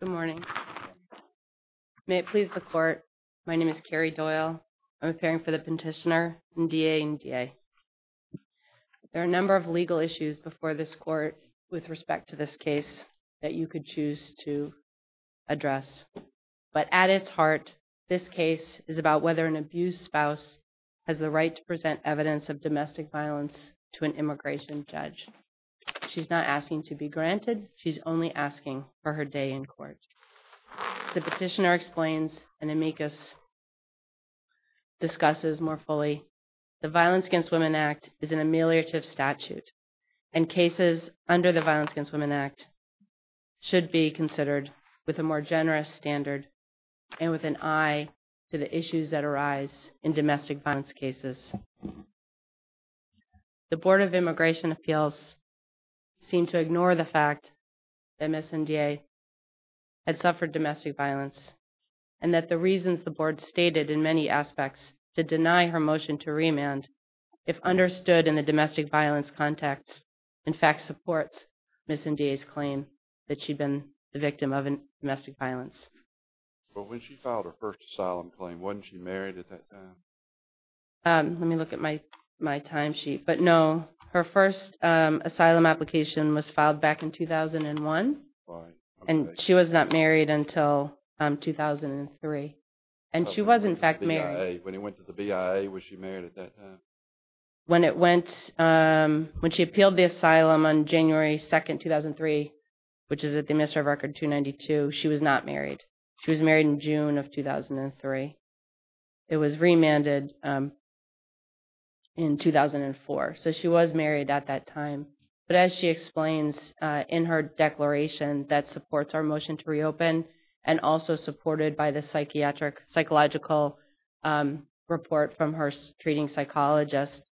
Good morning. May it please the court, my name is Carrie Doyle. I'm appearing for the petitioner, Ndeye Ndiaye. There are a number of legal issues before this court with respect to this case that you could choose to address. But at its heart, this case is about whether an abused spouse has the right to present evidence of domestic violence to an immigration judge. She's not asking to be granted. She's only asking for her day in court. The petitioner explains and amicus discusses more fully. The Violence Against Women Act is an ameliorative statute and cases under the Violence Against Women Act should be considered with a more generous standard and with an eye to the issues that arise in domestic violence cases. The Board of Immigration Appeals seemed to ignore the fact that Ms. Ndiaye had suffered domestic violence and that the reasons the board stated in many aspects to deny her motion to remand if understood in the domestic violence context, in fact supports Ms. Ndiaye's claim that she'd been the victim of domestic violence. But when she filed her first asylum claim, wasn't she married at that time? Let me look at my my timesheet, but no her first asylum application was filed back in 2001 and she was not married until 2003 and she was in fact married when he went to the BIA. Was she married at that time? When it went when she appealed the asylum on January 2nd, 2003, which is at the administrative record 292, she was not married. She was married in June of 2003. It was remanded in 2004. So she was married at that time. But as she explains in her declaration that supports our motion to reopen and also supported by the psychiatric psychological report from her treating psychologist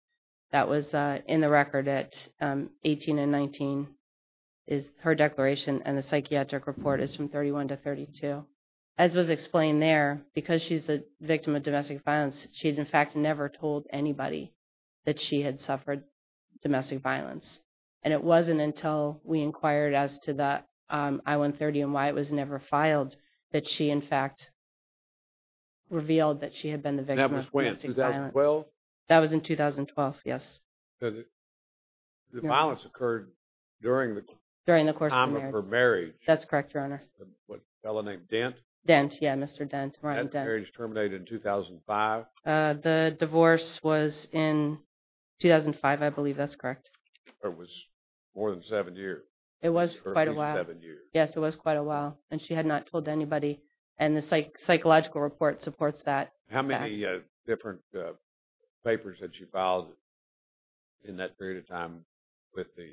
that was in the record at 18 and 19 is her declaration and the psychiatric report is from 31 to 32. As was explained there, because she's a victim of domestic violence she had in fact never told anybody that she had suffered domestic violence and it wasn't until we inquired as to that I-130 and why it was never filed that she in fact revealed that she had been the victim of domestic violence. That was in 2012? That was in 2012. Yes. The violence occurred during the course of her marriage. That's correct, your Honor. A fellow named Dent? Dent. Yeah, Mr. Dent. Her marriage terminated in 2005. The divorce was in 2005, I believe. That's correct. It was more than seven years. It was quite a while. Yes, it was quite a while and she had not told anybody and the psychological report supports that. How many different papers did she file? In that period of time with the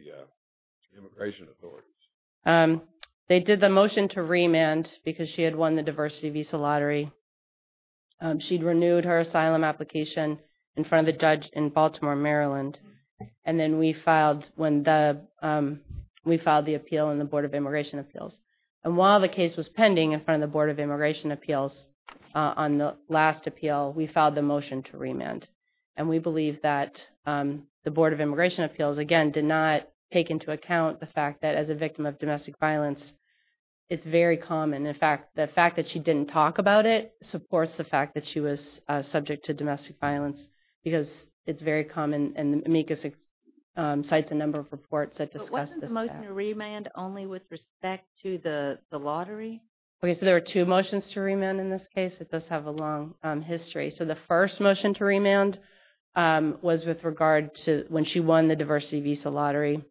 immigration authorities. They did the motion to remand because she had won the diversity visa lottery. She'd renewed her asylum application in front of the judge in Baltimore, Maryland, and then we filed when the we filed the appeal in the Board of Immigration Appeals and while the case was pending in front of the Board of Immigration Appeals on the last appeal we filed the motion to remand and we believe that the Board of Immigration Appeals, again, did not take into account the fact that as a victim of domestic violence it's very common. In fact, the fact that she didn't talk about it supports the fact that she was subject to domestic violence because it's very common and amicus cites a number of reports that discuss this fact. But wasn't the motion to remand only with respect to the lottery? Okay, so there were two motions to remand in this case. It does have a long history. So the first motion to remand was with regard to when she won the diversity visa lottery.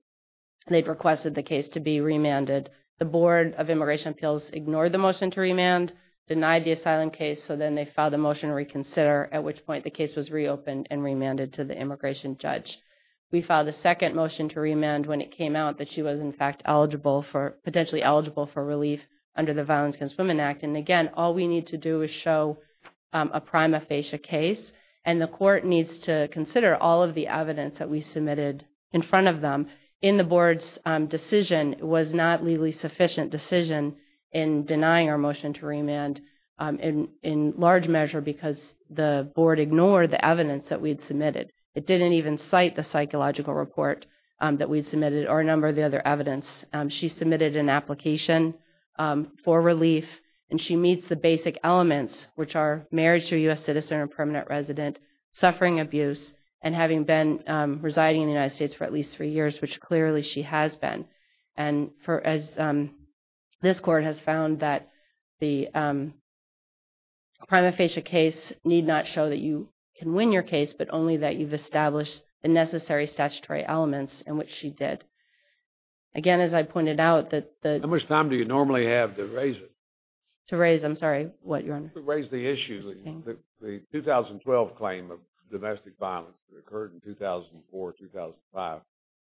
They've requested the case to be remanded. The Board of Immigration Appeals ignored the motion to remand, denied the asylum case, so then they filed a motion to reconsider at which point the case was reopened and remanded to the immigration judge. We filed a second motion to remand when it came out that she was in fact eligible for, potentially eligible for relief under the Violence Against Women Act. And again, all we need to do is show a court needs to consider all of the evidence that we submitted in front of them. In the board's decision, it was not a legally sufficient decision in denying our motion to remand in large measure because the board ignored the evidence that we had submitted. It didn't even cite the psychological report that we submitted or a number of the other evidence. She submitted an application for relief and she meets the basic elements which are marriage to a U.S. citizen and permanent resident, suffering abuse, and having been residing in the United States for at least three years, which clearly she has been. And for as this court has found that the prima facie case need not show that you can win your case, but only that you've established the necessary statutory elements in which she did. Again, as I pointed out that the... How much time do you normally have to raise? To raise, I'm sorry, what, Your Honor? To raise the issue, the 2012 claim of domestic violence that occurred in 2004-2005.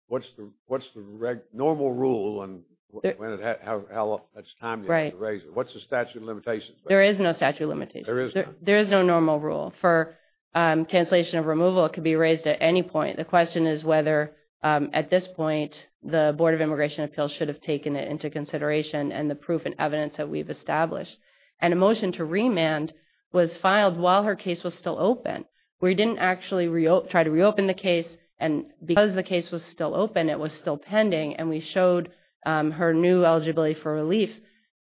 What's the normal rule and how much time do you have to raise it? What's the statute of limitations? There is no statute of limitations. There is no normal rule. For cancellation of removal, it could be raised at any point. The question is whether at this point the Board of Immigration Appeals should have taken it into consideration and the proof and evidence that we've established. And a motion to remand was filed while her case was still open. We didn't actually try to reopen the case, and because the case was still open, it was still pending, and we showed her new eligibility for relief.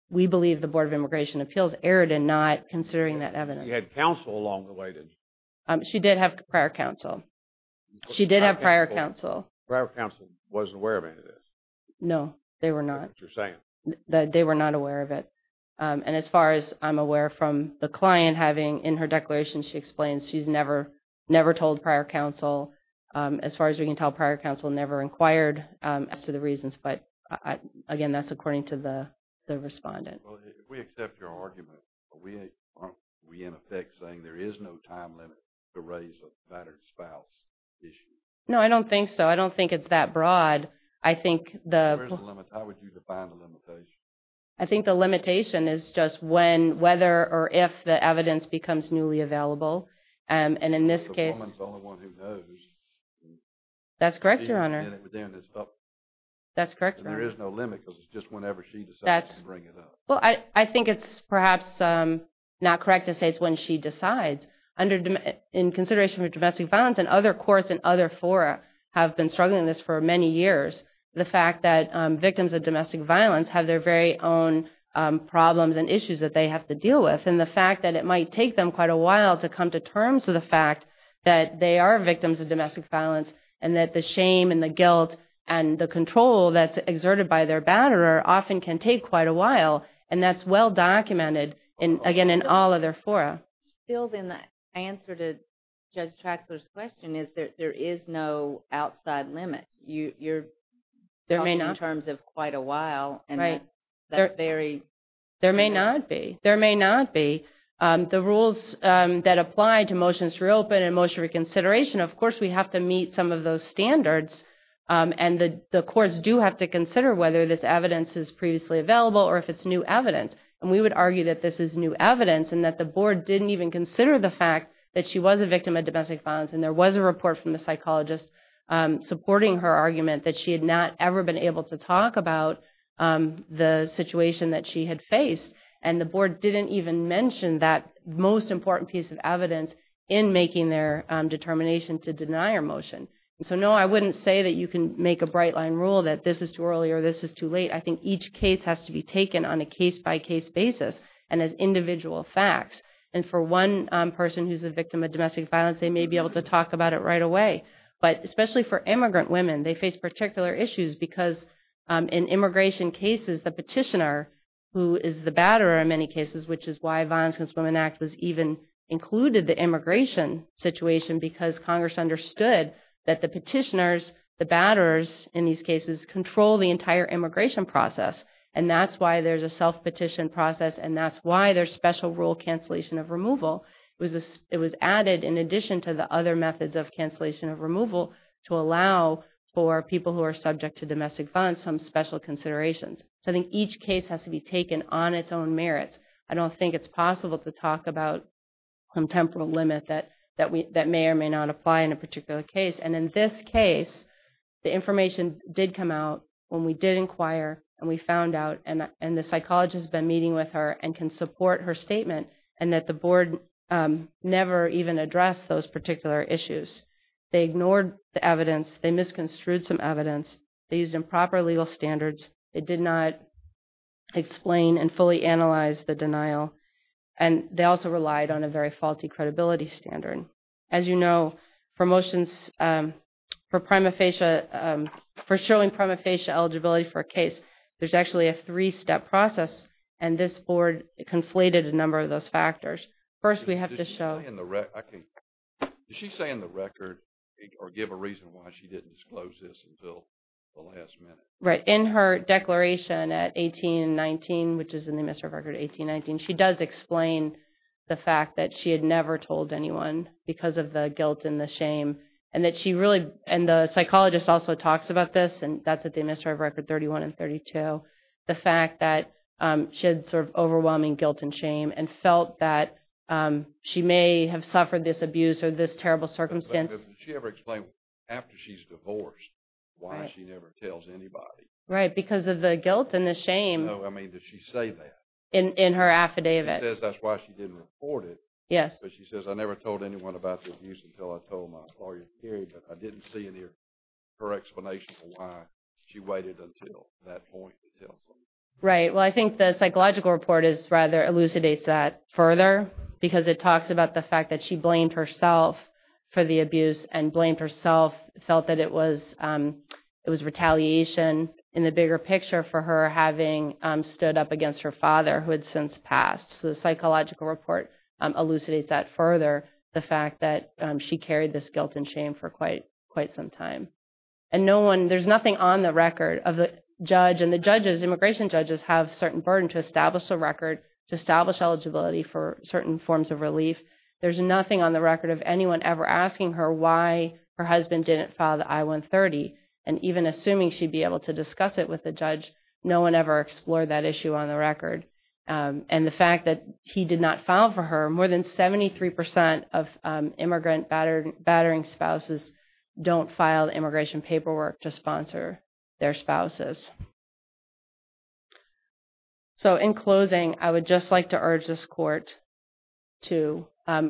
We believe the Board of Immigration Appeals erred in not considering that evidence. You had counsel along the way, didn't you? She did have prior counsel. She did have prior counsel. Prior counsel wasn't aware of any of this. No, they were not. They were not aware of it. And as far as I'm aware from the client having in her declaration, she explains she's never never told prior counsel. As far as we can tell, prior counsel never inquired as to the reasons. But again, that's according to the respondent. We in effect saying there is no time limit to raise a battered spouse issue. No, I don't think so. I don't think it's that broad. I think the I think the limitation is just when, whether, or if the evidence becomes newly available. And in this case, That's correct, Your Honor. That's correct. There is no limit. It's just whenever she decides to bring it up. Well, I think it's perhaps not correct to say it's when she decides. In consideration of domestic violence, and other courts and other fora have been struggling this for many years, the fact that victims of domestic violence have their very own problems and issues that they have to deal with. And the fact that it might take them quite a while to come to terms with the fact that they are victims of domestic violence, and that the shame and the guilt and the control that's exerted by their batterer often can take quite a while. And that's well documented in, again, in all of their fora. Still, then, the answer to Judge Traxler's question is that there is no outside limit. You're talking in terms of quite a while, and that's very... There may not be. There may not be. The rules that apply to motions to reopen and motion reconsideration, of course, we have to meet some of those standards. And the courts do have to consider whether this evidence is previously available, or if it's new evidence. And we would argue that this is new evidence, and that the board didn't even consider the fact that she was a victim of domestic violence, and there was a report from the psychologist supporting her argument that she had not ever been able to talk about the situation that she had faced. And the board didn't even mention that most important piece of evidence in making their determination to deny her motion. So, no, I wouldn't say that you can make a bright-line rule that this is too early, or this is too late. I think each case has to be taken on a case-by-case basis and as individual facts. And for one person who's a victim of domestic violence, they may be able to talk about it right away. But especially for immigrant women, they face particular issues because in immigration cases, the petitioner, who is the batterer in many cases, which is why Violence Against Women Act was even included the immigration situation, because Congress understood that the petitioners, the batterers in these cases, control the entire immigration process. And that's why there's a self-petition process, and that's why there's special rule cancellation of removal. It was added in addition to the other methods of cancellation of removal to allow for people who are subject to domestic violence some special considerations. So, I think each case has to be taken on its own merits. I don't think it's possible to talk about a contemporary limit that may or may not apply in a particular case. And in this case, the information did come out when we did inquire, and we found out, and the psychologist has been meeting with her and can support her statement, and that the board never even addressed those particular issues. They ignored the evidence. They misconstrued some evidence. They used improper legal standards. They did not fully explain and fully analyze the denial, and they also relied on a very faulty credibility standard. As you know, for motions for prima facie, for showing prima facie eligibility for a case, there's actually a three-step process, and this board conflated a number of those factors. First, we have to show in the record. Did she say in the record or give a reason why she didn't disclose this until the last minute? Right. In her declaration at 18 and 19, which is in the remiss of record 18-19, she does explain the fact that she had never told anyone because of the guilt and the shame, and that she really, and the psychologist also talks about this, and that's at the remiss of record 31 and 32, the fact that she had sort of overwhelming guilt and shame and felt that she may have suffered this abuse or this terrible circumstance. Did she ever explain after she's divorced why she never tells anybody? Right, because of the guilt and the shame. No, I mean, did she say that? In her affidavit. She says that's why she didn't report it. Yes. But she says, I never told anyone about the abuse until I told my client, period, but I didn't see any correct explanation for why she waited until that point. Right. Well, I think the psychological report is rather elucidates that further because it talks about the fact that she blamed herself for the abuse and blamed herself, felt that it was it was retaliation in the bigger picture for her having stood up against her father who had since passed. So the psychological report elucidates that further, the fact that she carried this guilt and shame for quite quite some time. And no one, there's nothing on the record of the judge, and the judges, immigration judges, have certain burden to establish a record, to establish eligibility for certain forms of relief. There's nothing on the record of anyone ever asking her why her husband didn't file the I-130 and even assuming she'd be able to discuss it with the judge, no one ever explored that issue on the record. And the fact that he did not file for her, more than 73% of immigrant battering spouses don't file immigration paperwork to sponsor their spouses. So, in closing, I would just like to urge this court to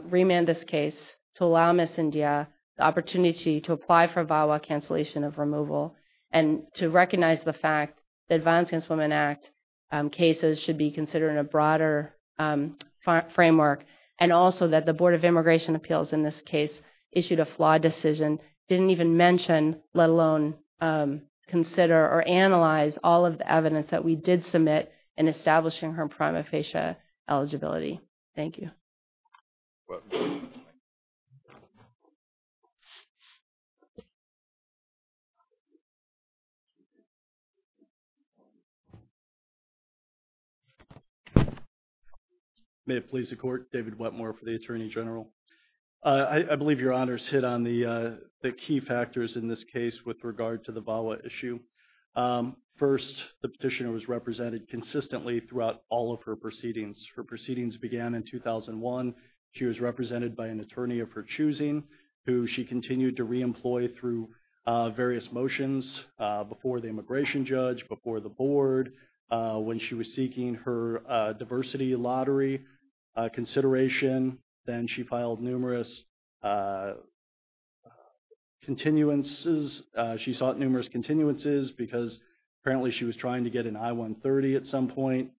remand this case, to allow Ms. India the opportunity to apply for VAWA cancellation of removal, and to recognize the fact that Violence Against Women Act cases should be considered in a broader framework, and also that the Board of Immigration Appeals in this case issued a flawed decision, didn't even mention, let alone consider or analyze all of the evidence that we did submit in establishing her prima facie eligibility. Thank you. May it please the court, David Wetmore for the Attorney General. I believe your honors hit on the key factors in this case with regard to the VAWA issue. First, the petitioner was represented consistently throughout all of her proceedings. Her proceedings began in 2001. She was represented by an attorney of her choosing, who she continued to re-employ through various motions before the immigration judge, before the board, when she was seeking her diversity lottery consideration. Then she filed numerous continuances. She sought numerous continuances because apparently she was trying to get an I-130 at some point.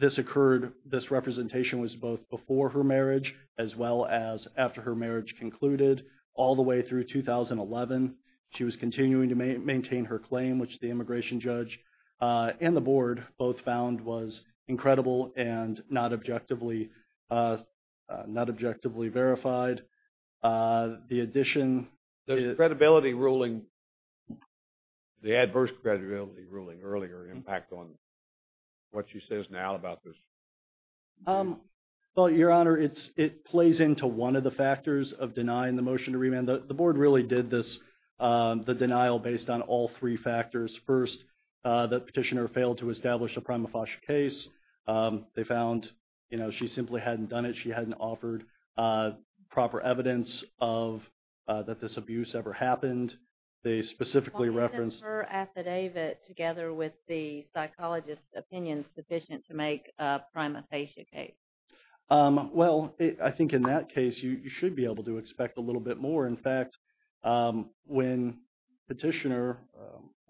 This occurred, this representation was both before her marriage, as well as after her marriage concluded, all the way through 2011. She was continuing to maintain her claim, which the immigration judge and the board both found was not objectively verified. The addition... The credibility ruling, the adverse credibility ruling earlier, impact on what she says now about this? Well, your honor, it plays into one of the factors of denying the motion to remand. The board really did this, the denial based on all three factors. First, the petitioner failed to establish a prima facie case. They found, you know, she simply hadn't done it. She hadn't offered proper evidence of that this abuse ever happened. They specifically referenced... Why isn't her affidavit together with the psychologist's opinion sufficient to make a prima facie case? Well, I think in that case you should be able to expect a little bit more. In fact, when the petitioner...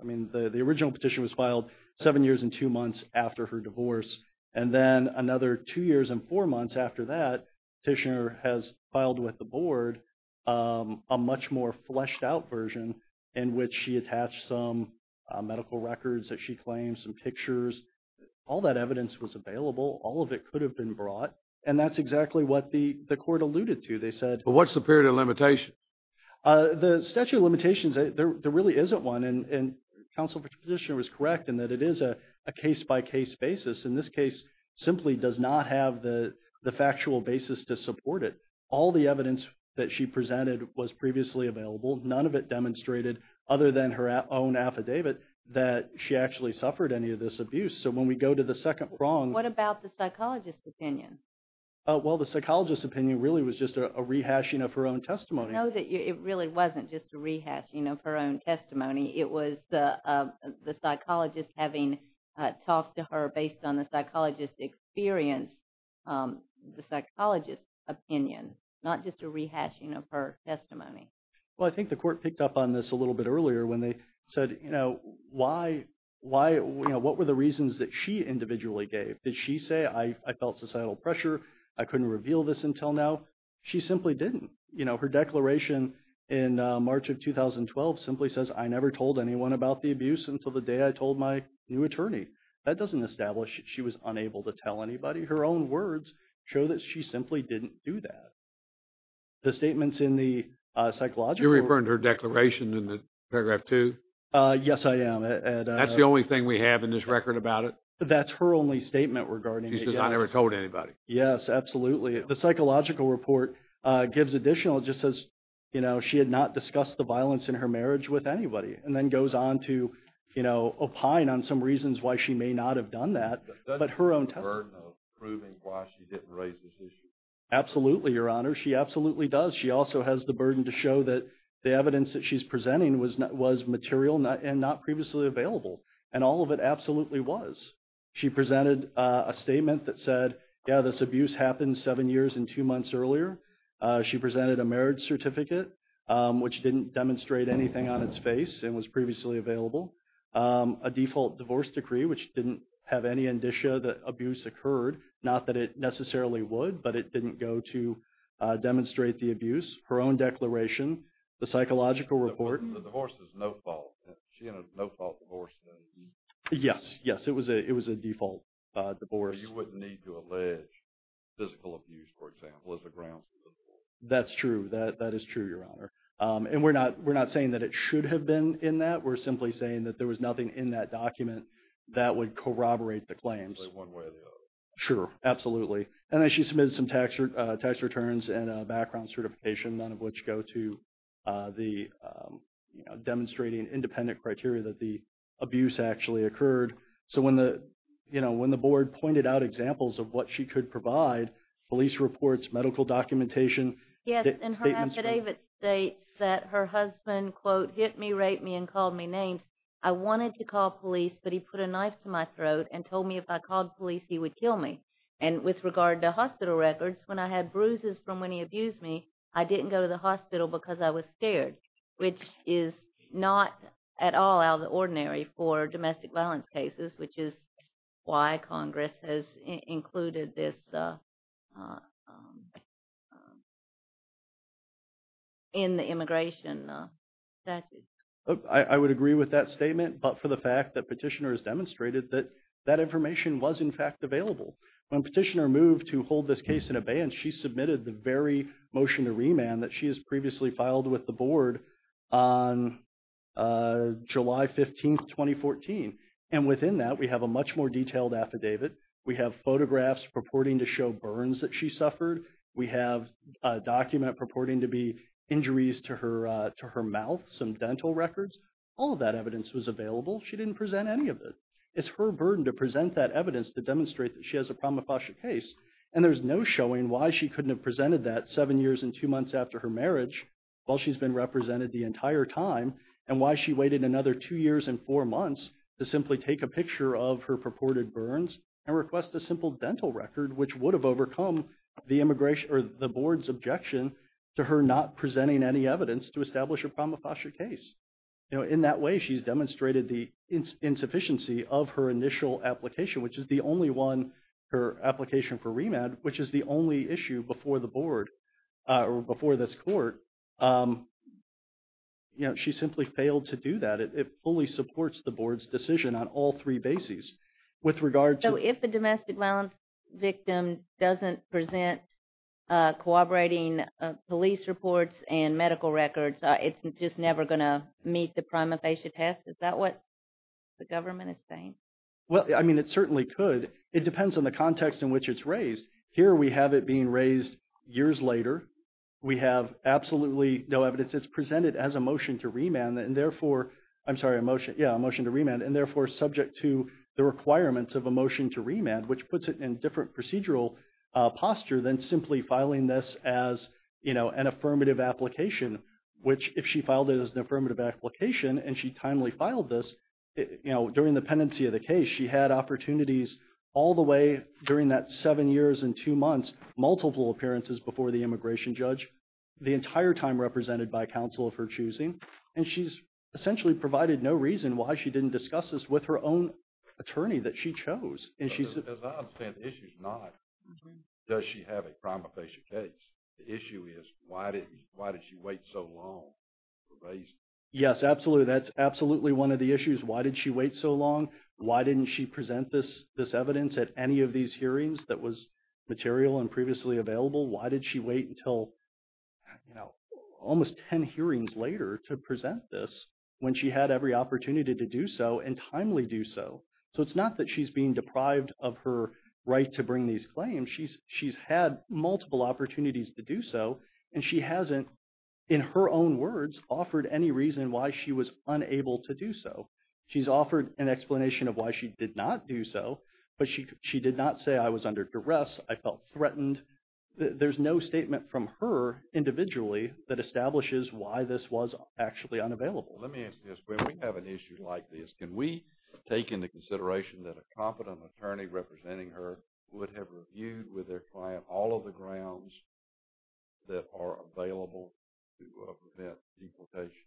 I mean, the original petition was filed seven years and two months after her divorce, and then another two years and four months after that, the petitioner has filed with the board a much more fleshed-out version in which she attached some medical records that she claims, some pictures. All that evidence was available. All of it could have been brought, and that's exactly what the the court alluded to. They said... But what's the period of limitation? The statute of limitations, there really isn't one, and counsel Petitioner was correct in that it is a case-by-case basis. In this case, simply does not have the factual basis to support it. All the evidence that she presented was previously available. None of it demonstrated, other than her own affidavit, that she actually suffered any of this abuse. So when we go to the second prong... What about the psychologist's opinion? Well, the psychologist's opinion really was just a rehashing of her own testimony. No, it really wasn't just a rehashing of her own testimony. It was the psychologist having talked to her based on the psychologist's experience, the psychologist's opinion, not just a rehashing of her testimony. Well, I think the court picked up on this a little bit earlier when they said, you know, why, you know, what were the reasons that she individually gave? Did she say, I felt societal pressure, I couldn't reveal this until now? She simply didn't. You know, her declaration in March of 2012 simply says, I never told anyone about the abuse until the day I told my new attorney. That doesn't establish that she was unable to tell anybody. Her own words show that she simply didn't do that. The statements in the psychological... Yes, I am. That's the only thing we have in this record about it? That's her only statement regarding it. She says, I never told anybody. Yes, absolutely. The psychological report gives additional. It just says, you know, she had not discussed the violence in her marriage with anybody, and then goes on to, you know, opine on some reasons why she may not have done that, but her own testimony... But doesn't that burden of proving why she didn't raise this issue? Absolutely, Your Honor. She absolutely does. She also has the burden to show that the evidence that she's presenting was material and not previously available, and all of it absolutely was. She presented a statement that said, yeah, this abuse happened seven years and two months earlier. She presented a marriage certificate, which didn't demonstrate anything on its face and was previously available. A default divorce decree, which didn't have any indicia that abuse occurred. Not that it necessarily would, but it didn't go to demonstrate the abuse. Her own declaration, the psychological report... The divorce is no-fault. She had a no-fault divorce. Yes, yes. It was a default divorce. You wouldn't need to allege physical abuse, for example, as a ground for the divorce. That's true. That is true, Your Honor. And we're not saying that it should have been in that. We're simply saying that there was nothing in that document that would corroborate the claims. One way or the other. Sure, absolutely. And then she submitted some tax returns and a background certification, none of which go to the demonstrating independent criteria that the abuse actually occurred. So when the, you know, when the board pointed out examples of what she could provide, police reports, medical documentation... Yes, and her affidavit states that her husband, quote, hit me, raped me, and called me names. I wanted to call police, but he put a knife to my throat and told me if I called police, he would kill me. And with regard to hospital records, when I had bruises from when he abused me, I didn't go to the hospital because I was scared, which is not at all out of the ordinary for domestic violence cases, which is why Congress has included this in the immigration statute. I would agree with that statement, but for the fact that Petitioner has demonstrated that that information was, in fact, available. When Petitioner moved to hold this case in abeyance, she submitted the very motion to remand that she has previously filed with the board on July 15, 2014. And within that, we have a much more detailed affidavit. We have photographs purporting to show burns that she suffered. We have a document purporting to be injuries to her mouth, some dental records. All of that evidence was available. She didn't present any of it. It's her burden to present that evidence to demonstrate that she has a prima facie case, and there's no showing why she couldn't have presented that seven years and two months after her marriage while she's been represented the entire time, and why she waited another two years and four months to simply take a picture of her purported burns and request a simple dental record, which would have overcome the board's objection to her not presenting any evidence to establish a prima facie case. In that way, she's demonstrated the insufficiency of her initial application, which is the only one, her application for remand, which is the only issue before the board or before this court. You know, she simply failed to do that. It fully supports the board's decision on all three bases. With regard to... So if a domestic violence victim doesn't present cooperating police reports and medical records, it's just never going to meet the prima facie test? Is that what the government is saying? Well, I mean, it certainly could. It depends on the context in which it's raised. Here we have it being raised years later. We have absolutely no evidence. It's presented as a motion to remand, and therefore, I'm sorry, a motion, yeah, a motion to remand, and therefore subject to the requirements of a motion to remand, which puts it in a different procedural posture than simply filing this as, you know, an affirmative application, which if she filed it as an affirmative application and she timely filed this, you know, during the pendency of the case, she had opportunities all the way during that seven years and two months, multiple appearances before the immigration judge, the entire time represented by counsel of her choosing. And she's essentially provided no reason why she didn't discuss this with her own attorney that she chose. And she's... As I understand, the issue is not does she have a prima facie case. The issue is why did she wait so long to raise... Yes, absolutely. That's absolutely one of the issues. Why did she wait so long? Why didn't she present this evidence at any of these hearings that was material and previously available? Why did she wait until, you know, almost 10 hearings later to present this when she had every opportunity to do so and timely do so? So it's not that she's being deprived of her right to bring these claims. She's had multiple opportunities to do so and she hasn't, in her own words, offered any reason why she was unable to do so. She's offered an explanation of why she did not do so, but she did not say, I was under duress, I felt threatened. There's no statement from her individually that establishes why this was actually unavailable. Let me ask you this. When we have an issue like this, can we take into consideration that a competent attorney representing her would have reviewed with their client all of the grounds that are available to prevent deportation?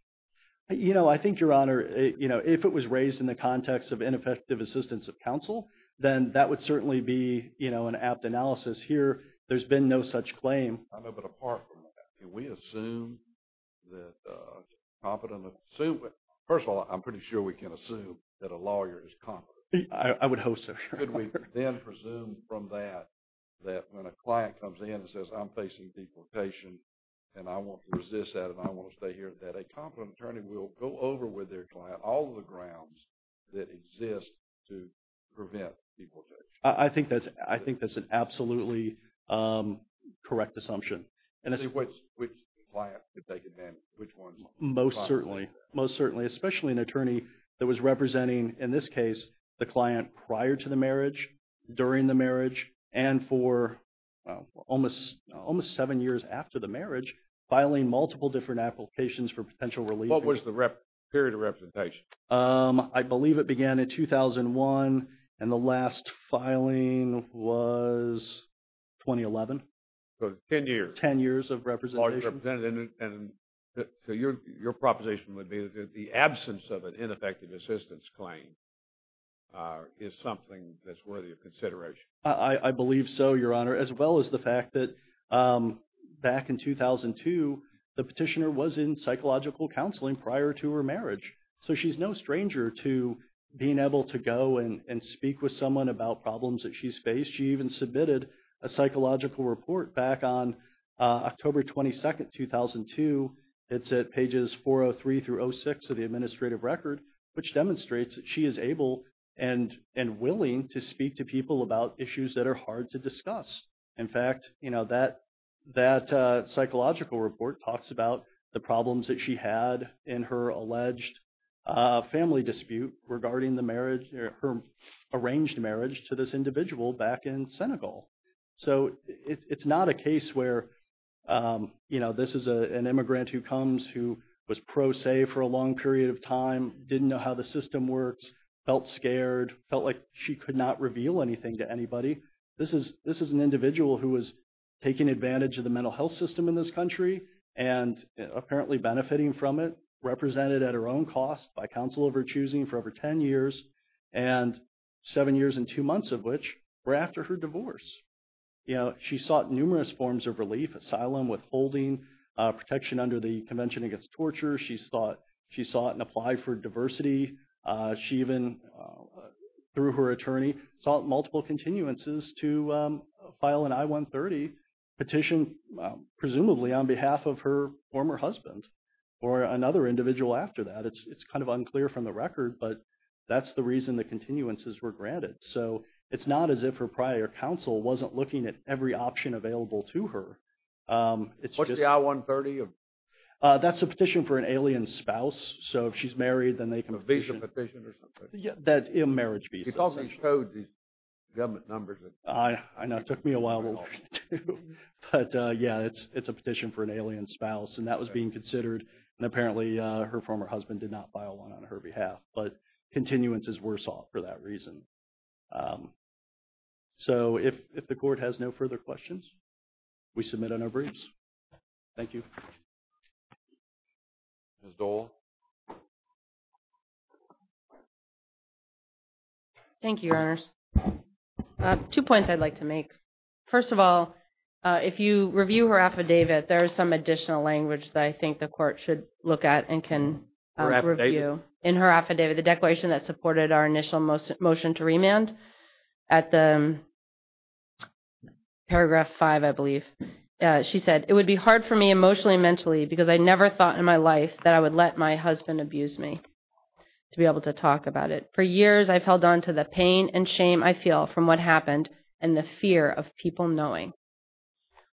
You know, I think, Your Honor, if it was raised in the context of ineffective assistance of counsel, then that would certainly be an apt analysis. Here, there's been no such claim. I know, but apart from that, can we assume that a competent, first of all, I'm pretty sure we can assume that a lawyer is competent. I would hope so, Your Honor. Could we then presume from that that when a client comes in and says, I'm facing deportation and I want to resist that and I want to stay here, that a competent attorney will go over with their client all of the grounds that exist to prevent deportation? I think that's an absolutely correct assumption. Which client would take advantage? Which one? Most certainly. Most certainly. Especially an attorney that was representing, in this case, the client prior to the marriage, during the marriage, and for almost seven years after the marriage, filing multiple different applications for potential relief. What was the period of representation? I believe it began in 2001, and the last filing was 2011. Ten years. Ten years of representation. So your proposition would be that the absence of an ineffective assistance claim is something that's worthy of consideration. I believe so, Your Honor, as well as the fact that back in 2002, the petitioner was in psychological counseling prior to her marriage. So she's no stranger to being able to go and speak with someone about problems that she's faced. She even submitted a psychological report back on October 22, 2002. It's at pages 403 through 06 of the administrative record, which demonstrates that she is able and willing to speak to people about issues that are hard to discuss. In fact, that psychological report talks about the problems that she had in her alleged family dispute regarding her arranged marriage to this individual back in Senegal. So it's not a case where this is an immigrant who comes who was pro se for a long period of time, didn't know how the system works, felt scared, felt like she could not reveal anything to anybody. This is an individual who was taking advantage of the mental health system in this country and apparently benefiting from it, represented at her own cost by counsel of her choosing for over 10 years, and seven years and two months of which were after her divorce. She sought numerous forms of relief, asylum, withholding, protection under the Convention Against Torture. She sought and applied for diversity. She even, through her attorney, sought multiple continuances to file an I-130 petition, presumably on behalf of her former husband or another individual after that. It's kind of unclear from the record, but that's the reason the continuances were granted. So it's not as if her prior counsel wasn't looking at every option available to her. What's the I-130? That's a petition for an alien spouse. So if she's married, then they can petition. A visa petition or something? Yeah, a marriage visa. It's all these codes, these government numbers. I know. It took me a while to learn, too. But, yeah, it's a petition for an alien spouse, and that was being considered, and apparently her former husband did not file one on her behalf. But continuances were sought for that reason. So if the Court has no further questions, we submit a no briefs. Thank you. Ms. Dole? Thank you, Your Honors. Two points I'd like to make. First of all, if you review her affidavit, there is some additional language that I think the Court should look at and can review. Her affidavit? In her affidavit, the declaration that supported our initial motion to remand. At the paragraph five, I believe, she said, it would be hard for me emotionally and mentally because I never thought in my life that I would let my husband abuse me, to be able to talk about it. For years I've held on to the pain and shame I feel from what happened and the fear of people knowing,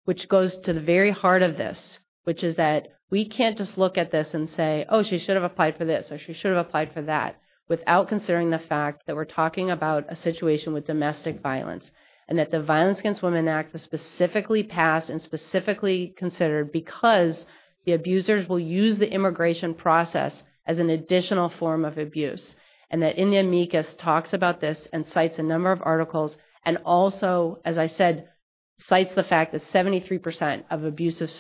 which goes to the very heart of this, which is that we can't just look at this and say, oh, she should have applied for this or she should have applied for that, without considering the fact that we're talking about a situation with domestic violence and that the Violence Against Women Act was specifically passed and specifically considered because the abusers will use the immigration process as an additional form of abuse. And that in the amicus talks about this and cites a number of articles and also, as I said, cites the fact that 73% of abusive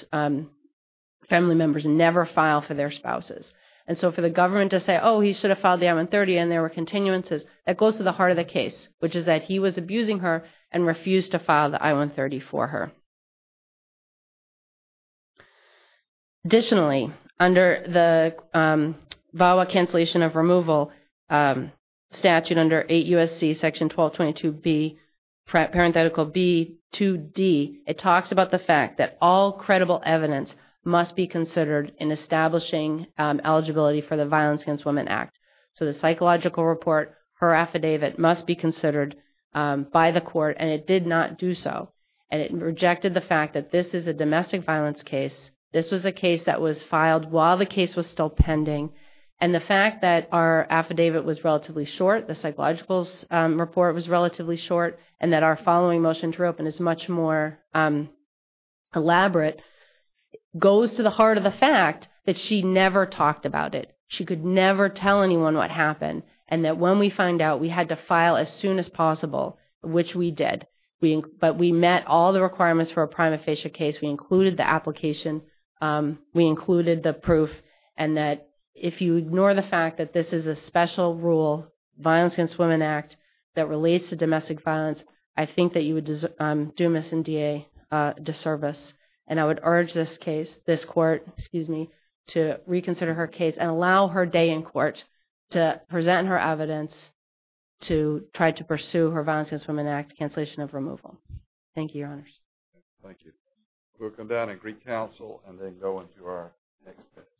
family members never file for their spouses. And so for the government to say, oh, he should have filed the I-130 and there were continuances, that goes to the heart of the case, which is that he was abusing her and refused to file the I-130 for her. Additionally, under the VAWA Cancellation of Removal Statute under 8 U.S.C. Section 1222B, parenthetical B, 2D, it talks about the fact that all credible evidence must be considered in establishing eligibility for the Violence Against Women Act. So the psychological report, her affidavit, must be considered by the court, and it did not do so. And it rejected the fact that this is a domestic violence case, this was a case that was filed while the case was still pending, and the fact that our affidavit was relatively short, the psychological report was relatively short, and that our following motion to reopen is much more elaborate, goes to the heart of the fact that she never talked about it. She could never tell anyone what happened, and that when we find out we had to file as soon as possible, which we did. But we met all the requirements for a prima facie case. We included the application. We included the proof. And that if you ignore the fact that this is a special rule, the Violence Against Women Act, that relates to domestic violence, I think that you would do Ms. Ndiaye a disservice. And I would urge this case, this court, excuse me, to reconsider her case and allow her day in court to present her evidence to try to pursue her Violence Against Women Act cancellation of removal. Thank you, Your Honors. Thank you. We'll come down and recouncil and then go into our next witness.